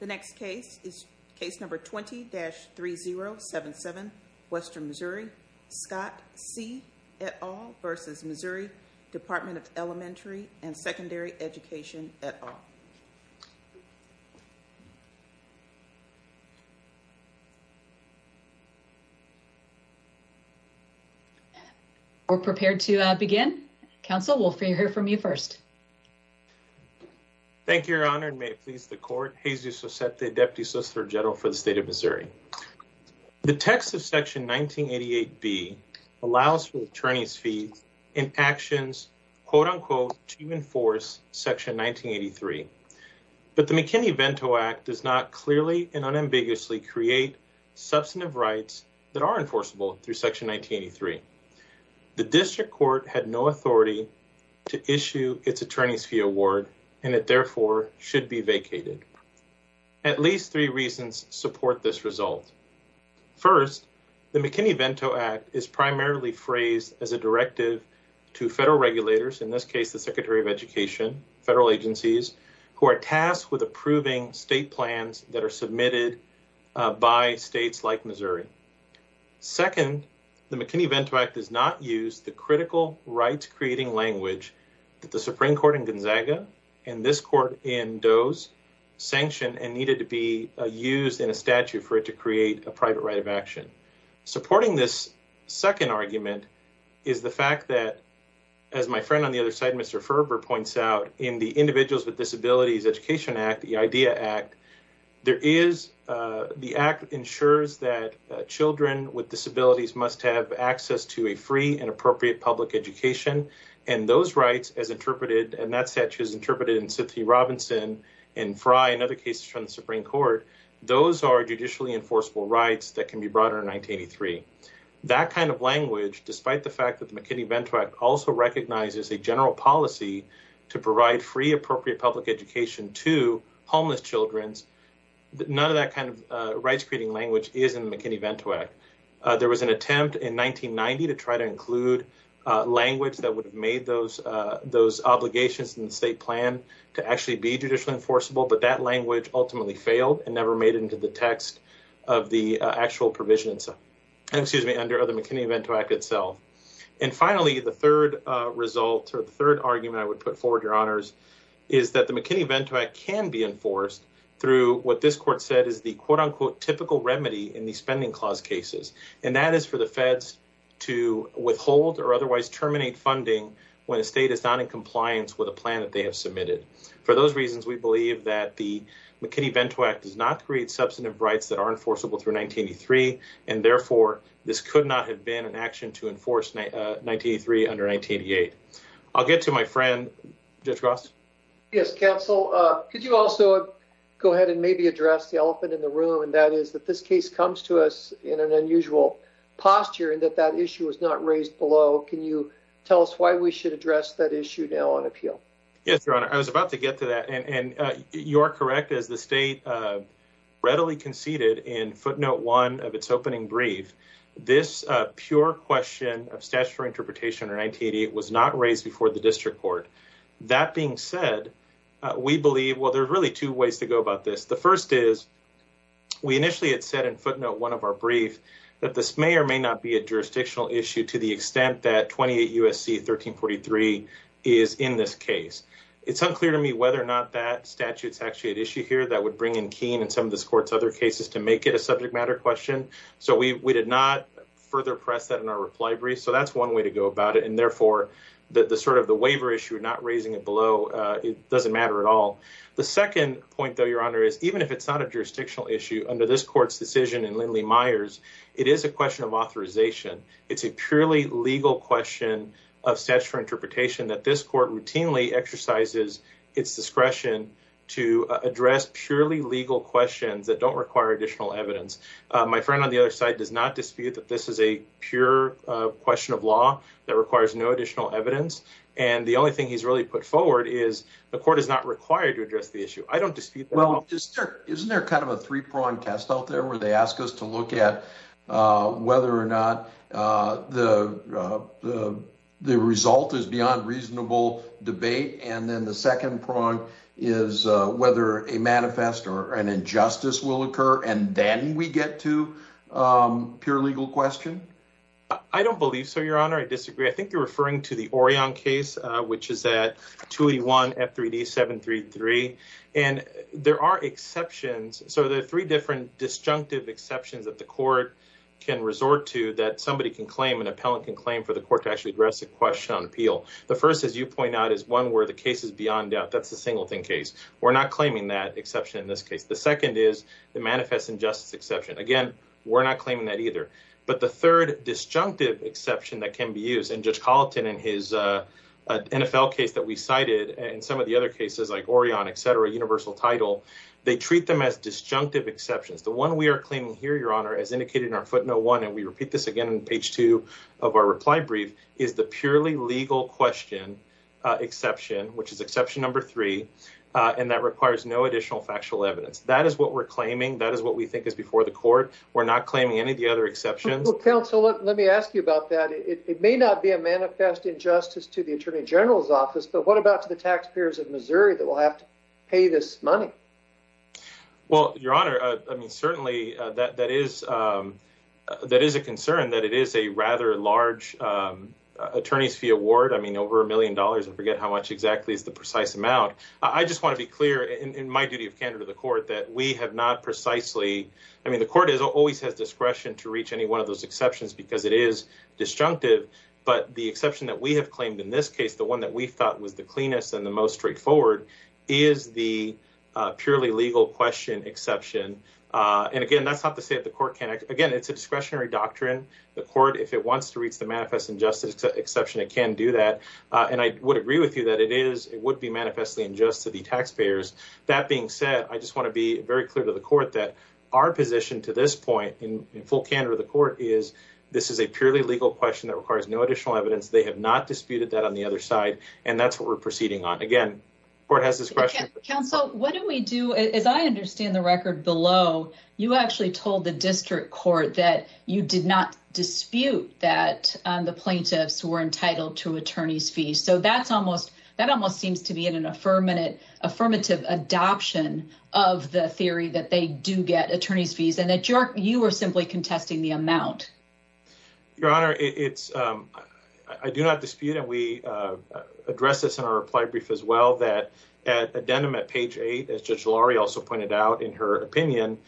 The next case is case number 20-3077, Western Missouri. Scott C. et al. v. Missouri Department of Elementary and Secondary Education et al. We're prepared to begin. Counsel, we'll hear from you first. Thank you, Your Honor, and may it please the Court, Jesus Sosette, Deputy Solicitor General for the State of Missouri. The text of Section 1988B allows for attorney's fees in actions, quote-unquote, to enforce Section 1983. But the McKinney-Vento Act does not clearly and unambiguously create substantive rights that are enforceable through Section 1983. The district court had no authority to issue its attorney's fee award, and it therefore should be vacated. At least three reasons support this result. First, the McKinney-Vento Act is primarily phrased as a directive to federal regulators, in this case the Secretary of Education, federal agencies, who are tasked with approving state plans that are submitted by states like Missouri. Second, the McKinney-Vento Act does not use the critical rights-creating language that the Supreme Court in Gonzaga and this court in Doe's sanctioned and needed to be used in a statute for it to create a private right of action. Supporting this second argument is the fact that, as my friend on the other side, Mr. Ferber, points out, in the Individuals with Disabilities Education Act, the IDEA Act, there is, the act ensures that children with disabilities must have access to a free and appropriate public education, and those rights, as interpreted, and that statute is interpreted in Cynthia Robinson and Frye and other cases from the Supreme Court, those are judicially enforceable rights that can be brought under 1983. That kind of language, despite the fact that the McKinney-Vento Act also recognizes a general policy to provide free, appropriate public education to homeless children, none of that kind of rights-creating language is in the McKinney-Vento Act. There was an attempt in 1990 to try to include language that would have made those obligations in the state plan to actually be judicially enforceable, but that language ultimately failed and never made it into the text of the McKinney-Vento Act itself. And finally, the third result, or the third argument I would put forward, Your Honors, is that the McKinney-Vento Act can be enforced through what this court said is the quote-unquote typical remedy in the Spending Clause cases, and that is for the feds to withhold or otherwise terminate funding when a state is not in And so, I would argue that the McKinney-Vento Act does not create substantive rights that are enforceable through 1983, and therefore, this could not have been an action to enforce 1983 under 1988. I'll get to my friend, Judge Ross. Yes, counsel. Could you also go ahead and maybe address the elephant in the room, and that is that this case comes to us in an unusual posture and that that issue is not raised below. Can you tell us why we should address that issue now on appeal? Yes, Your Honor. I was about to get to that, and you are correct. As the state readily conceded in footnote one of its opening brief, this pure question of statutory interpretation under 1988 was not raised before the district court. That being said, we believe, well, there's really two ways to go about this. The first is we initially had said in footnote one of our brief that this may or may not be a jurisdictional issue to the extent that 28 U.S.C. 1343 is in this case. It's unclear to me whether or not that statute's actually at issue here. That would bring in Keene and some of this court's other cases to make it a subject matter question, so we did not further press that in our reply brief, so that's one way to go about it, and therefore, the sort of the waiver issue, not raising it below, it doesn't matter at all. The second point, though, Your Honor, is even if it's not a jurisdictional issue under this court's decision in Lindley-Myers, it is a question of authorization. It's a purely legal question of statutory interpretation that this court routinely exercises its discretion to address purely legal questions that don't require additional evidence. My friend on the other side does not dispute that this is a pure question of law that requires no additional evidence, and the only thing he's really put forward is the court is not required to address the issue. I don't dispute that at all. Well, isn't there kind of a three-prong test out there where they ask us to look at whether or not the result is beyond reasonable debate, and then the second prong is whether a manifest or an injustice will occur, and then we get to pure legal question? I don't believe so, Your Honor. I disagree. I think you're referring to the Orion case, which is at 281 F3D 733, and there are exceptions. So there are three different disjunctive exceptions that the court can resort to that somebody can claim, an appellant can claim for the court to actually address the question on appeal. The first, as you point out, is one where the case is beyond doubt. That's the Singleton case. We're not claiming that exception in this case. The second is the manifest injustice exception. Again, we're not claiming that either, but the third disjunctive exception that can be used, and Judge Colleton in his NFL case that we cited and some of the other cases like Orion, et cetera, universal title, they treat them as disjunctive exceptions. The one we are claiming here, Your Honor, as indicated in our footnote one, and we repeat this again on page two of our reply brief, is the purely legal question exception, which is exception number three, and that requires no additional factual evidence. That is what we're claiming. That is what we think is before the court. We're not claiming any of the other exceptions. Counsel, let me ask you about that. It may not be a manifest injustice to the attorney general's office, but what about to the taxpayers of Missouri that will have to pay this money? Well, Your Honor, I mean, certainly that is a concern, that it is a rather large attorney's fee award. I mean, over a million dollars. I forget how much exactly is the precise amount. I just want to be clear in my duty of candidate of the court that we have not precisely. I mean, the court always has discretion to reach any one of those exceptions because it is disjunctive. But the exception that we have claimed in this case, the one that we thought was the cleanest and the most straightforward, is the purely legal question exception. And again, that's not to say that the court can't. Again, it's a discretionary doctrine. The court, if it wants to reach the manifest injustice exception, it can do that. And I would agree with you that it is. It would be manifestly unjust to the taxpayers. That being said, I just want to be very clear to the court that our position to this point, in full candor of the court, is this is a purely legal question that requires no additional evidence. They have not disputed that on the other side. And that's what we're proceeding on. Again, the court has discretion. Counsel, what do we do? As I understand the record below, you actually told the district court that you did not dispute that the plaintiffs were entitled to attorney's fees. So that almost seems to be an affirmative adoption of the theory that they do get attorney's fees and that you are simply contesting the amount. Your Honor, I do not dispute, and we addressed this in our reply brief as well, that at addendum at page eight, as Judge Laurie also pointed out in her opinion,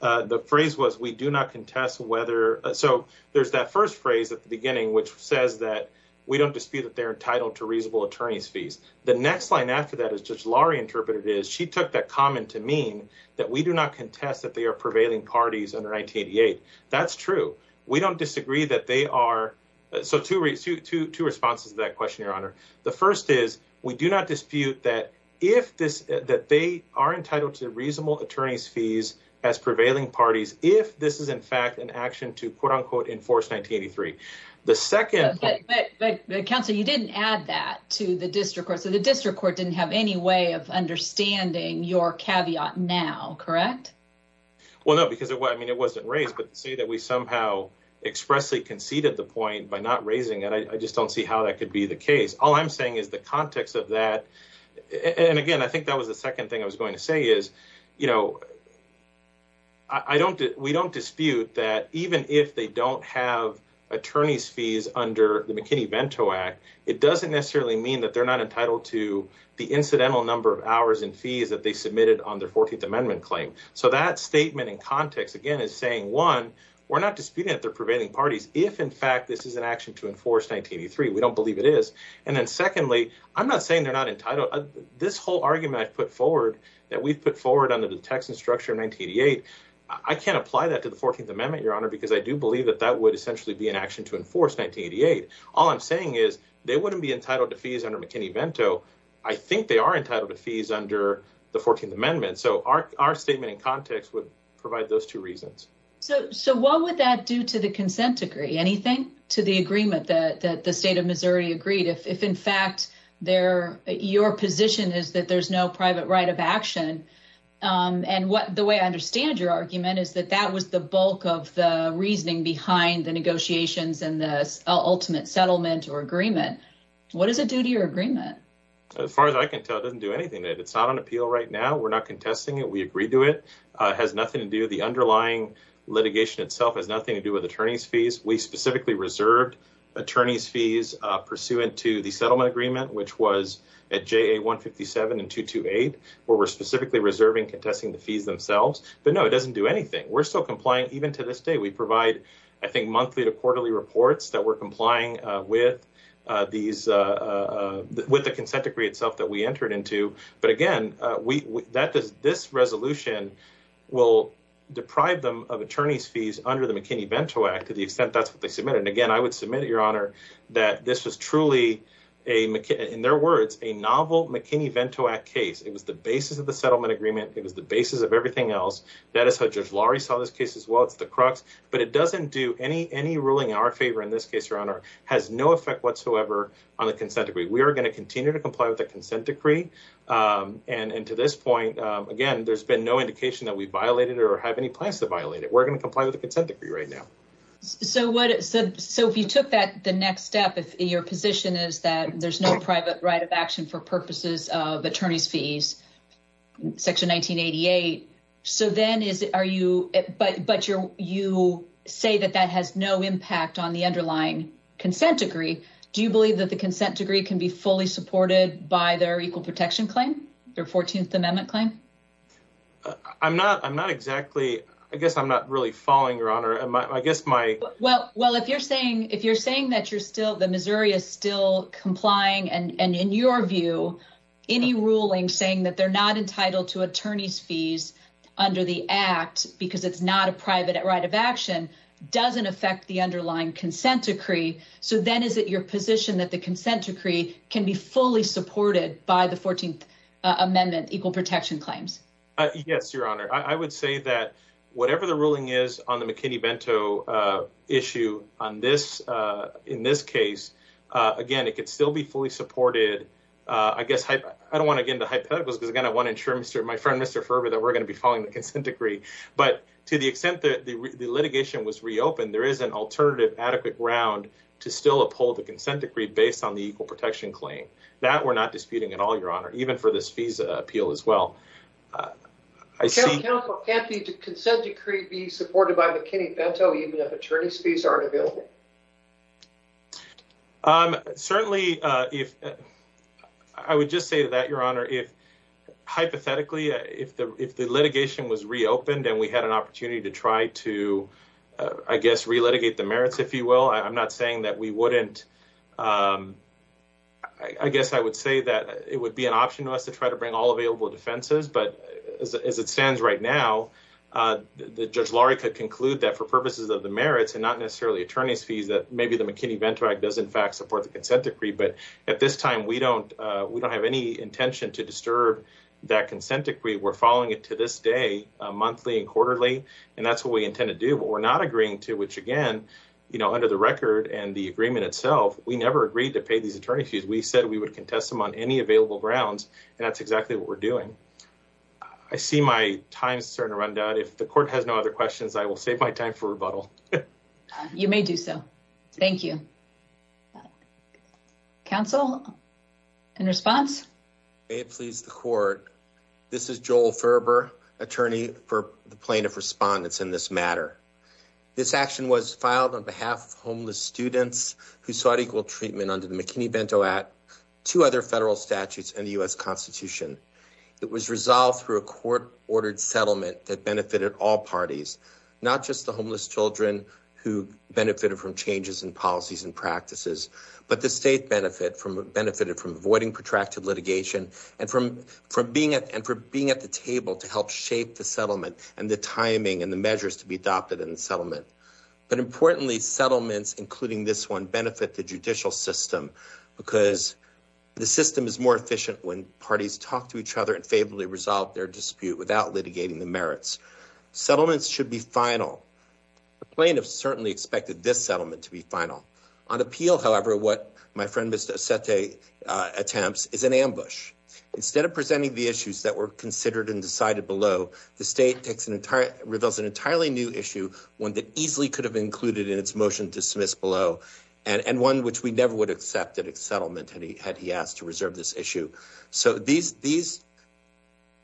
the phrase was, we do not contest whether. So there's that first phrase at the beginning, which says that we don't dispute that they're entitled to reasonable attorney's fees. The next line after that, as Judge Laurie interpreted it, is she took that comment to mean that we do not contest that they are prevailing parties under 1988. That's true. We don't disagree that they are. So two responses to that question, Your Honor. The first is we do not dispute that if this, that they are entitled to reasonable attorney's fees as prevailing parties, if this is in fact an action to quote unquote enforce 1983. The second... But counsel, you didn't add that to the district court. So the district court didn't have any way of understanding your caveat now, correct? Well, no, because I mean, it wasn't raised. But to say that we somehow expressly conceded the point by not raising it, I just don't see how that could be the case. All I'm saying is the context of that. And again, I think that was the second thing I was going to say is, you know, we don't dispute that even if they don't have attorney's fees under the McKinney-Vento Act, it doesn't necessarily mean that they're not entitled to the incidental number of hours and fees that they submitted on their 14th Amendment claim. So that statement in context, again, is saying, one, we're not disputing that they're prevailing parties if in fact this is an action to enforce 1983. We don't believe it is. And then secondly, I'm not saying they're not entitled. This whole argument I've put forward, that we've put forward under the text and structure of 1988, I can't apply that to the 14th Amendment, Your Honor, because I do believe that that would essentially be an action to enforce 1988. All I'm saying is they wouldn't be entitled to fees under McKinney-Vento. I think they are entitled to fees under the 14th Amendment. So our statement in context would provide those two reasons. So what would that do to the consent decree? Anything to the agreement that the state of Missouri agreed? If in fact your position is that there's no private right of action. And the way I understand your argument is that that was the bulk of the reasoning behind the negotiations and the ultimate settlement or agreement. What does it do to your agreement? As far as I can tell, it doesn't do anything to it. It's not on appeal right now. We're not contesting it. We agree to it. It has nothing to do, the underlying litigation itself has nothing to do with attorney's fees. We specifically reserved attorney's fees pursuant to the settlement agreement, which was at JA 157 and 228, where we're specifically reserving contesting the fees themselves. But no, it doesn't do anything. We're still complying even to this day. We provide, I think, monthly to quarterly reports that we're complying with the consent decree itself that we entered into. But again, this resolution will deprive them of attorney's fees under the McKinney-Vento Act to the extent that's what they submitted. And again, I would submit, Your Honor, that this was truly, in their words, a novel McKinney-Vento Act case. It was the basis of the settlement agreement. It was the basis of everything else. That is how Judge Laurie saw this case as well. It's the crux. But it doesn't do any ruling in our favor in this case, Your Honor. It has no effect whatsoever on the consent decree. We are going to continue to comply with the consent decree. And to this point, again, there's been no indication that we violated it or have any plans to violate it. We're going to comply with the consent decree right now. So if you took that the next step, if your position is that there's no private right of action for purposes of attorney's fees, Section 1988, but you say that that has no impact on the underlying consent decree, do you believe that the consent decree can be fully supported by their equal protection claim, their 14th Amendment claim? I guess I'm not really following, Your Honor. Well, if you're saying that the Missouri is still complying, and in your view, any ruling saying that they're not entitled to attorney's fees under the Act because it's not a private right of action doesn't affect the underlying consent decree. So then is it your position that the consent decree can be fully supported by the 14th Amendment equal protection claims? Yes, Your Honor. I would say that whatever the ruling is on the McKinney-Bento issue on this, in this case, again, it could still be fully supported. I guess I don't want to get into hypotheticals because I want to ensure my friend, Mr. Ferber, that we're going to be following the consent decree. But to the extent that the litigation was reopened, there is an alternative adequate ground to still uphold the consent decree based on the equal protection claim. That we're not disputing at all, Your Honor, even for this FISA appeal as well. Can't the consent decree be supported by McKinney-Bento even if attorney's fees aren't available? Certainly, if I would just say that, Your Honor, if hypothetically, if the litigation was reopened and we had an opportunity to try to, I guess, relitigate the merits, if you will. I'm not saying that we wouldn't. I guess I would say that it would be an option to us to try to bring all available defenses. But as it stands right now, Judge Laurie could conclude that for purposes of the merits and not necessarily attorney's fees, that maybe the McKinney-Bento Act does, in fact, support the consent decree. But at this time, we don't we don't have any intention to disturb that consent decree. We're following it to this day, monthly and quarterly. And that's what we intend to do. But we're not agreeing to which, again, you know, under the record and the agreement itself, we never agreed to pay these attorney's fees. We said we would contest them on any available grounds. And that's exactly what we're doing. I see my time is starting to run down. If the court has no other questions, I will save my time for rebuttal. You may do so. Thank you. Counsel, in response. May it please the court. This is Joel Ferber, attorney for the plaintiff respondents in this matter. This action was filed on behalf of homeless students who sought equal treatment under the McKinney-Bento Act. Two other federal statutes and the U.S. Constitution. It was resolved through a court ordered settlement that benefited all parties, not just the homeless children who benefited from changes in policies and practices, but the state benefit from benefited from avoiding protracted litigation and from from being and for being at the table to help shape the settlement and the timing and the measures to be adopted in the settlement. But importantly, settlements, including this one, benefit the judicial system, because the system is more efficient when parties talk to each other and favorably resolve their dispute without litigating the merits. Settlements should be final. The plaintiff certainly expected this settlement to be final. On appeal, however, what my friend, Mr. Sete, attempts is an ambush. Instead of presenting the issues that were considered and decided below, the state takes an entire reveals an entirely new issue, one that easily could have included in its motion to dismiss below and one which we never would accept at a settlement. And he had he asked to reserve this issue. So these these.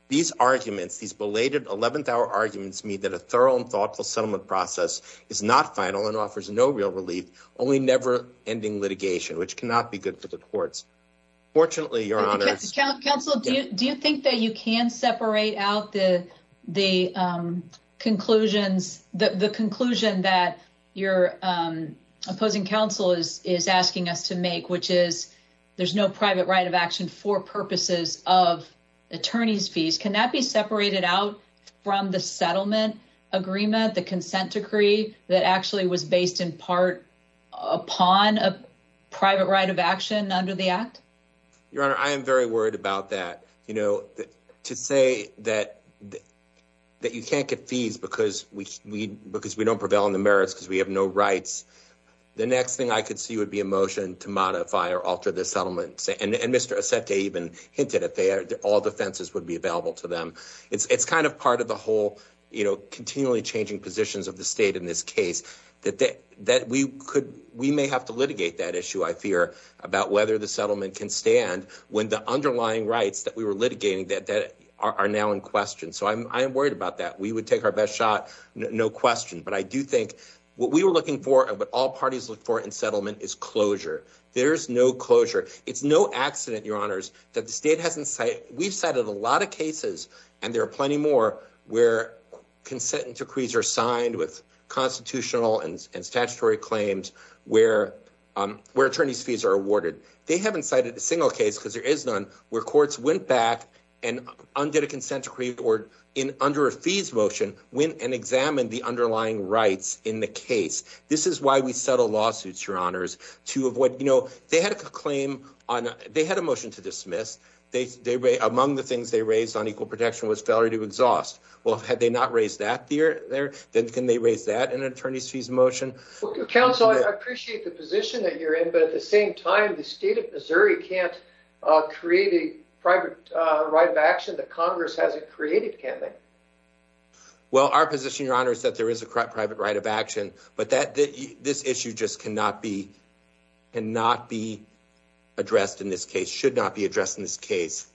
These arguments, these belated 11th hour arguments mean that a thorough and thoughtful settlement process is not final and offers no real relief, only never ending litigation, which cannot be good for the courts. Fortunately, your honor's counsel, do you think that you can separate out the the conclusions, the conclusion that your opposing counsel is is asking us to make, which is there's no private right of action for purposes of attorney's fees. Can that be separated out from the settlement agreement? The consent decree that actually was based in part upon a private right of action under the act. Your honor, I am very worried about that. You know, to say that that you can't get fees because we because we don't prevail in the merits because we have no rights. The next thing I could see would be a motion to modify or alter the settlement. And Mr. Sete even hinted at all defenses would be available to them. It's kind of part of the whole, you know, continually changing positions of the state in this case that that we could we may have to litigate that issue. I fear about whether the settlement can stand when the underlying rights that we were litigating that that are now in question. So I'm worried about that. We would take our best shot. No question. But I do think what we were looking for and what all parties look for in settlement is closure. There's no closure. It's no accident, your honors, that the state hasn't say we've cited a lot of cases. And there are plenty more where consent and decrees are signed with constitutional and statutory claims where where attorney's fees are awarded. They haven't cited a single case because there is none where courts went back and undid a consent decree or in under a fees motion, went and examined the underlying rights in the case. This is why we settle lawsuits, your honors, to avoid, you know, they had a claim on. They had a motion to dismiss. They among the things they raised on equal protection was failure to exhaust. Well, had they not raised that there, then can they raise that in an attorney's fees motion? Well, counsel, I appreciate the position that you're in. But at the same time, the state of Missouri can't create a private right of action. Well, our position, your honors, that there is a private right of action, but that this issue just cannot be and not be addressed in this case should not be addressed in this case.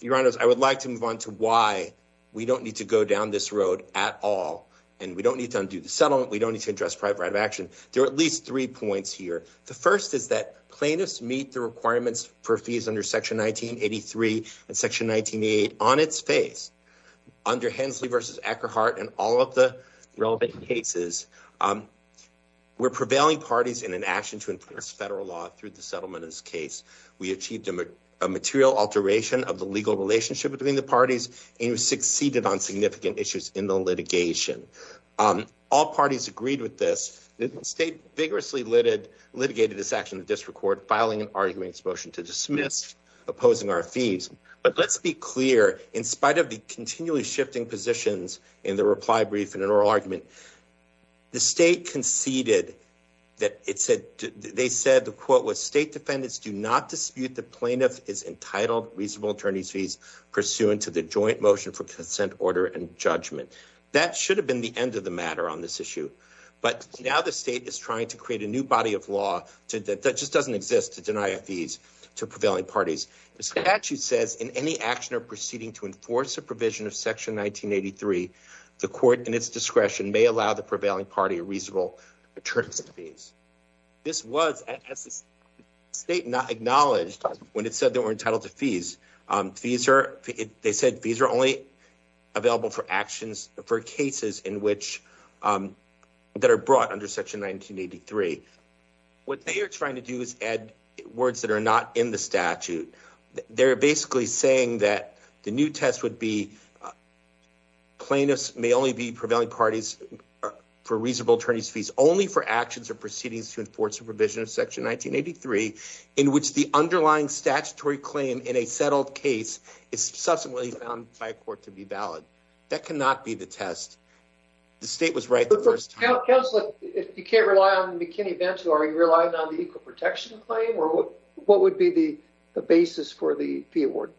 Your honors, I would like to move on to why we don't need to go down this road at all. And we don't need to undo the settlement. We don't need to address private action. There are at least three points here. The first is that plaintiffs meet the requirements for fees under Section 1983 and Section 1988 on its face under Hensley versus Eckerhart and all of the relevant cases. We're prevailing parties in an action to enforce federal law through the settlement of this case. We achieved a material alteration of the legal relationship between the parties and succeeded on significant issues in the litigation. All parties agreed with this state vigorously lit it, litigated this action, the district court filing an arguments motion to dismiss opposing our fees. But let's be clear, in spite of the continually shifting positions in the reply brief and an oral argument. The state conceded that it said they said the quote was state defendants do not dispute the plaintiff is entitled reasonable attorneys fees pursuant to the joint motion for consent order and judgment. That should have been the end of the matter on this issue. But now the state is trying to create a new body of law that just doesn't exist to deny a fees to prevailing parties. The statute says in any action or proceeding to enforce a provision of Section 1983, the court in its discretion may allow the prevailing party reasonable attorneys fees. This was state not acknowledged when it said they were entitled to fees. Fees are they said fees are only available for actions for cases in which that are brought under Section 1983. What they are trying to do is add words that are not in the statute. They're basically saying that the new test would be plaintiffs may only be prevailing parties for reasonable attorneys fees only for actions or proceedings to enforce a provision of Section 1983, in which the underlying statutory claim in a settled case is subsequently found by court to be valid. That cannot be the test. The state was right the first time. If you can't rely on McKinney-Vento, are you relying on the equal protection claim or what would be the basis for the fee award?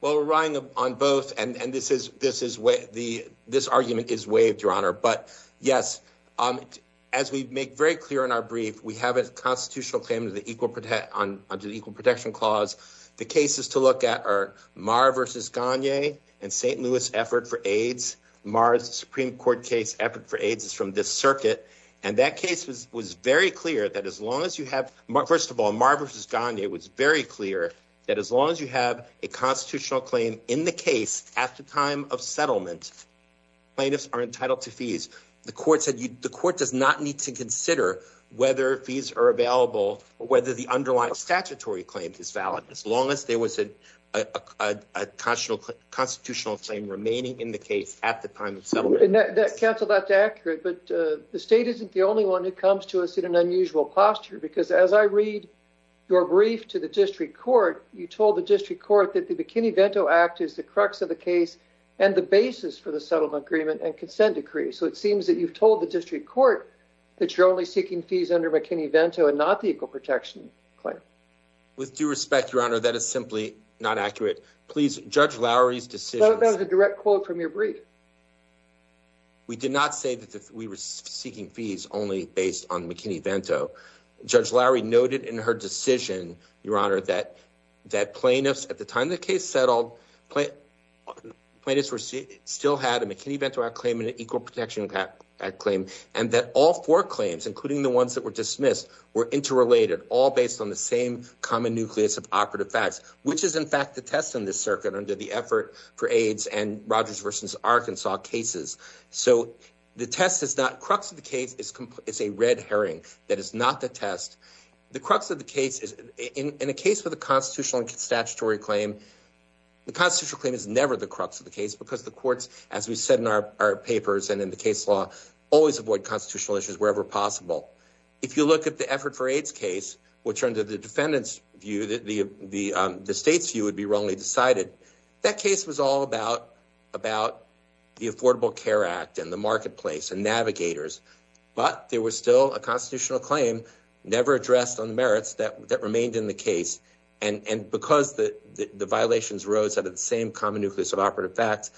Well, relying on both and this is this is where the this argument is waived, Your Honor. But, yes, as we make very clear in our brief, we have a constitutional claim to the equal protection clause. The cases to look at are Maher versus Gagne and St. Louis effort for AIDS. Maher's Supreme Court case effort for AIDS is from this circuit. And that case was was very clear that as long as you have, first of all, Maher versus Gagne, it was very clear that as long as you have a constitutional claim in the case at the time of settlement, plaintiffs are entitled to fees. The court said the court does not need to consider whether fees are available or whether the underlying statutory claim is valid as long as there was a constitutional constitutional claim remaining in the case at the time of settlement. That's accurate. But the state isn't the only one who comes to us in an unusual posture, because as I read your brief to the district court, you told the district court that the McKinney-Vento Act is the crux of the case and the basis for the settlement agreement and consent decree. So it seems that you've told the district court that you're only seeking fees under McKinney-Vento and not the equal protection claim. With due respect, Your Honor, that is simply not accurate. That was a direct quote from your brief. under the effort for AIDS and Rogers versus Arkansas cases. So the test is not crux of the case. It's a red herring. That is not the test. The crux of the case is in a case with a constitutional and statutory claim. The constitutional claim is never the crux of the case because the courts, as we said in our papers and in the case law, always avoid constitutional issues wherever possible. If you look at the effort for AIDS case, which under the defendant's view, the state's view would be wrongly decided. That case was all about the Affordable Care Act and the marketplace and navigators. But there was still a constitutional claim never addressed on the merits that remained in the case. And because the violations rose out of the same common nucleus of operative facts,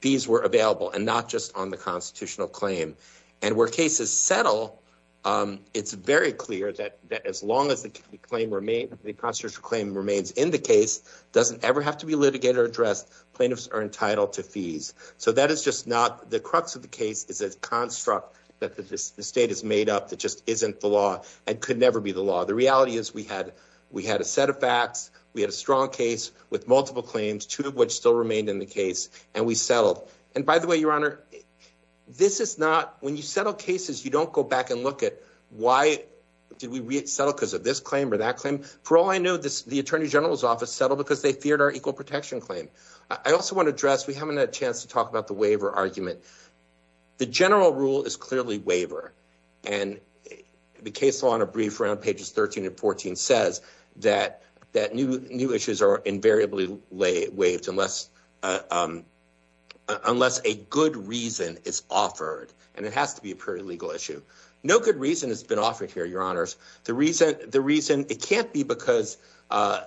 these were available and not just on the constitutional claim. And where cases settle, it's very clear that as long as the claim remains, the constitutional claim remains in the case, doesn't ever have to be litigated or addressed. Plaintiffs are entitled to fees. So that is just not the crux of the case is a construct that the state has made up that just isn't the law and could never be the law. The reality is we had we had a set of facts. We had a strong case with multiple claims, two of which still remained in the case. And by the way, your honor, this is not when you settle cases, you don't go back and look at why did we settle because of this claim or that claim? For all I know, the attorney general's office settled because they feared our equal protection claim. I also want to address we haven't had a chance to talk about the waiver argument. The general rule is clearly waiver. And the case on a brief round pages 13 and 14 says that that new new issues are invariably waived unless unless a good reason is offered. And it has to be a pretty legal issue. No good reason has been offered here. The reason the reason it can't be because,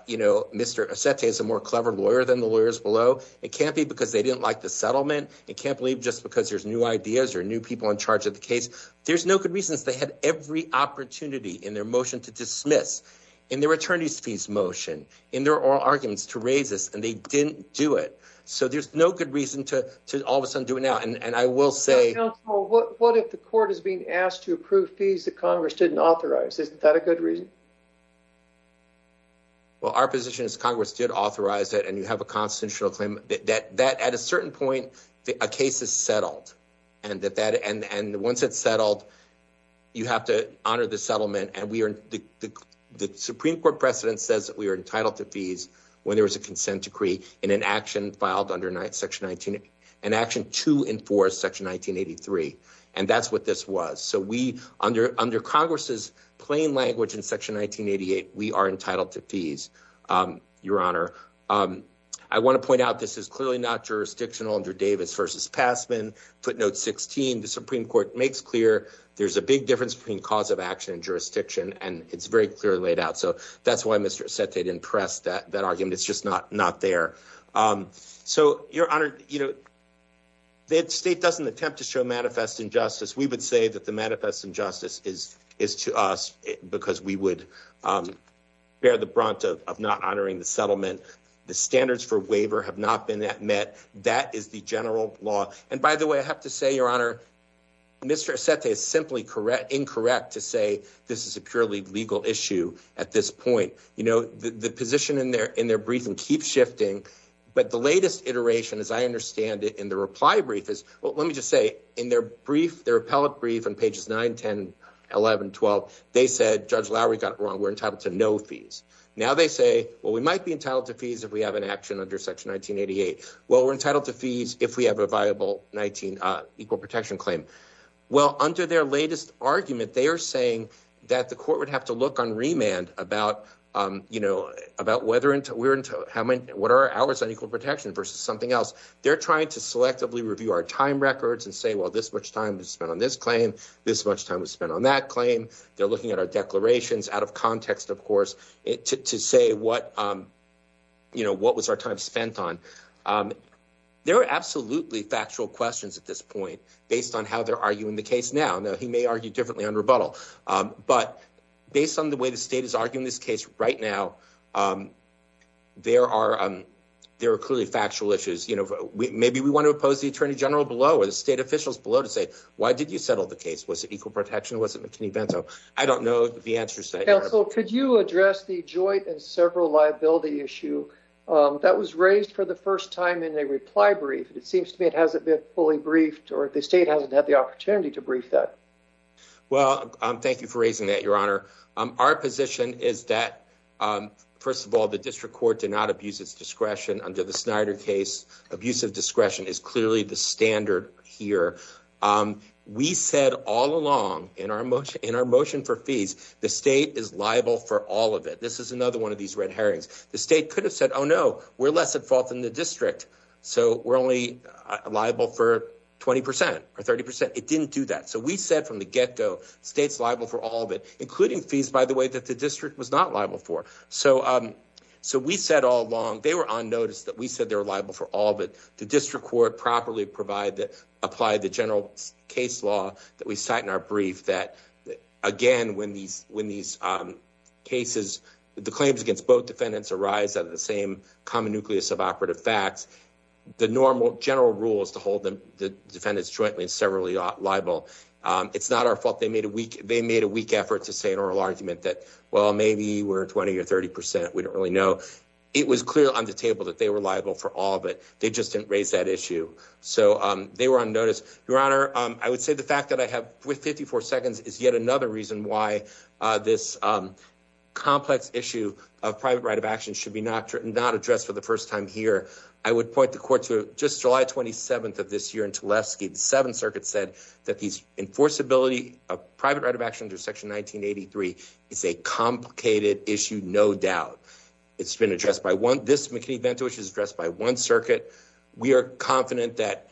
you know, Mr. Assett is a more clever lawyer than the lawyers below. It can't be because they didn't like the settlement. It can't believe just because there's new ideas or new people in charge of the case. There's no good reasons. They had every opportunity in their motion to dismiss in their attorneys fees motion in their oral arguments to raise this, and they didn't do it. So there's no good reason to to all of a sudden do it now. What if the court is being asked to approve fees that Congress didn't authorize? Is that a good reason? Well, our position is Congress did authorize it, and you have a constitutional claim that that at a certain point, a case is settled. And that that and once it's settled, you have to honor the settlement. The Supreme Court precedent says that we are entitled to fees when there was a consent decree in an action filed under section 19 and action to enforce section 1983. And that's what this was. So we under under Congress's plain language in section 1988, we are entitled to fees. Your honor, I want to point out this is clearly not jurisdictional under Davis versus Passman. Put note 16. The Supreme Court makes clear there's a big difference between cause of action and jurisdiction. And it's very clearly laid out. So that's why Mr. Said they didn't press that argument. It's just not not there. So your honor, you know. The state doesn't attempt to show manifest injustice. We would say that the manifest injustice is is to us because we would bear the brunt of not honoring the settlement. The standards for waiver have not been met. That is the general law. And by the way, I have to say, your honor. Mr. Is simply correct. Incorrect to say this is a purely legal issue at this point. You know, the position in there in their breathing keeps shifting. But the latest iteration, as I understand it, in the reply brief is, well, let me just say in their brief, their appellate brief on pages 9, 10, 11, 12. They said Judge Lowry got it wrong. We're entitled to no fees. Now they say, well, we might be entitled to fees. If we have an action under section 1988. Well, we're entitled to fees if we have a viable 19 equal protection claim. Well, under their latest argument, they are saying that the court would have to look on remand about, you know, about whether we're into what are hours on equal protection versus something else. They're trying to selectively review our time records and say, well, this much time is spent on this claim. This much time was spent on that claim. They're looking at our declarations out of context, of course, to say what, you know, what was our time spent on? There are absolutely factual questions at this point based on how they're arguing the case now. Now, he may argue differently on rebuttal, but based on the way the state is arguing this case right now, there are there are clearly factual issues. You know, maybe we want to oppose the attorney general below or the state officials below to say, why did you settle the case? Was it equal protection? Was it McKinney Bento? I don't know the answer. So could you address the joint and several liability issue that was raised for the first time in a reply brief? It seems to me it hasn't been fully briefed or the state hasn't had the opportunity to brief that. Our position is that, first of all, the district court did not abuse its discretion under the Snyder case. Abusive discretion is clearly the standard here. We said all along in our motion, in our motion for fees, the state is liable for all of it. This is another one of these red herrings. The state could have said, oh, no, we're less at fault than the district. So we're only liable for 20 percent or 30 percent. It didn't do that. So we said from the get go, state's liable for all of it, including fees, by the way, that the district was not liable for. So so we said all along they were on notice that we said they were liable for all of it. The district court properly provide that apply the general case law that we cite in our brief that again, when these when these cases, the claims against both defendants arise out of the same common nucleus of operative facts, the normal general rules to hold the defendants jointly and severally liable. It's not our fault. They made a weak they made a weak effort to say an oral argument that, well, maybe we're 20 or 30 percent. We don't really know. It was clear on the table that they were liable for all of it. They just didn't raise that issue. So they were on notice. Your Honor, I would say the fact that I have with 54 seconds is yet another reason why this complex issue of private right of action should be not not addressed for the first time here. I would point the court to just July 27th of this year. And to last seven circuits said that these enforceability of private right of action under Section 1983 is a complicated issue. No doubt. It's been addressed by one. This event, which is addressed by one circuit. We are confident that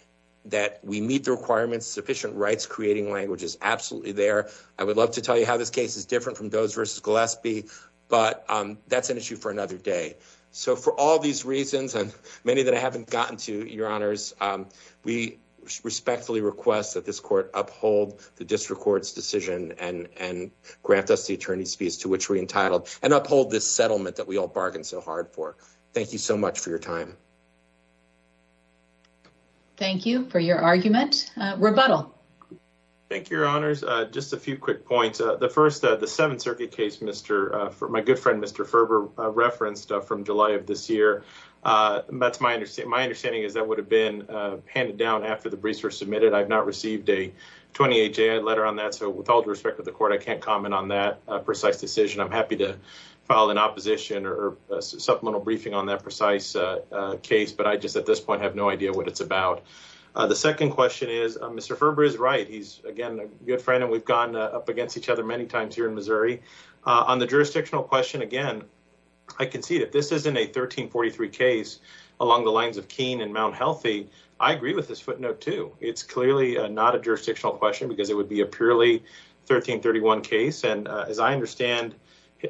that we meet the requirements, sufficient rights, creating language is absolutely there. I would love to tell you how this case is different from those versus Gillespie, but that's an issue for another day. So for all these reasons and many that I haven't gotten to your honors, we respectfully request that this court uphold the district court's decision and and grant us the attorney's fees to which we entitled and uphold this settlement that we all bargained so hard for. Thank you so much for your time. Thank you for your argument. Thank you, your honors. Just a few quick points. The first of the seven circuit case, Mr. For my good friend, Mr. Ferber referenced from July of this year. That's my understanding. My understanding is that would have been handed down after the briefs were submitted. I've not received a 28 day letter on that. So with all due respect to the court, I can't comment on that precise decision. I'm happy to file an opposition or supplemental briefing on that precise case. But I just at this point have no idea what it's about. The second question is, Mr. Ferber is right. He's, again, a good friend. And we've gone up against each other many times here in Missouri on the jurisdictional question. Again, I can see that this isn't a 1343 case along the lines of Keene and Mount Healthy. I agree with this footnote, too. It's clearly not a jurisdictional question because it would be a purely 1331 case. And as I understand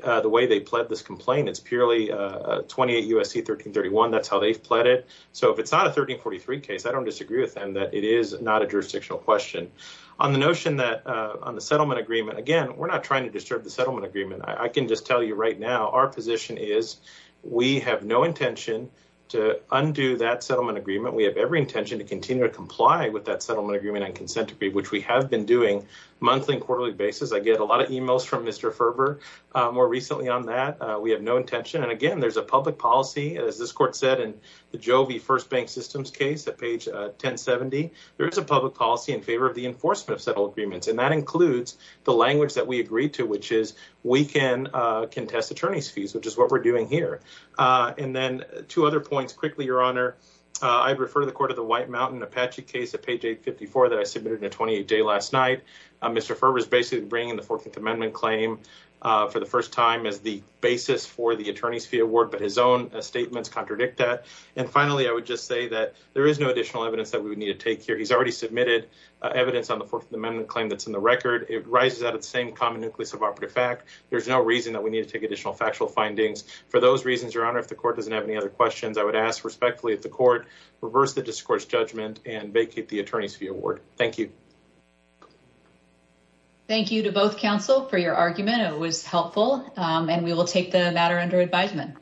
the way they pled this complaint, it's purely 28 U.S.C. 1331. That's how they've pled it. So if it's not a 1343 case, I don't disagree with them that it is not a jurisdictional question on the notion that on the settlement agreement. Again, we're not trying to disturb the settlement agreement. I can just tell you right now our position is we have no intention to undo that settlement agreement. We have every intention to continue to comply with that settlement agreement and consent to be which we have been doing monthly and quarterly basis. I get a lot of e-mails from Mr. Ferber more recently on that. We have no intention. And, again, there's a public policy, as this court said, in the Jovi First Bank Systems case at page 1070. There is a public policy in favor of the enforcement of settlement agreements. And that includes the language that we agreed to, which is we can contest attorney's fees, which is what we're doing here. And then two other points quickly, Your Honor. I refer to the court of the White Mountain Apache case at page 854 that I submitted in a 28-day last night. Mr. Ferber is basically bringing the Fourth Amendment claim for the first time as the basis for the attorney's fee award, but his own statements contradict that. And, finally, I would just say that there is no additional evidence that we would need to take here. He's already submitted evidence on the Fourth Amendment claim that's in the record. It rises out of the same common nucleus of operative fact. There's no reason that we need to take additional factual findings. For those reasons, Your Honor, if the court doesn't have any other questions, I would ask respectfully that the court reverse the discourse judgment and vacate the attorney's fee award. Thank you. Thank you to both counsel for your argument. It was helpful, and we will take the matter under advisement.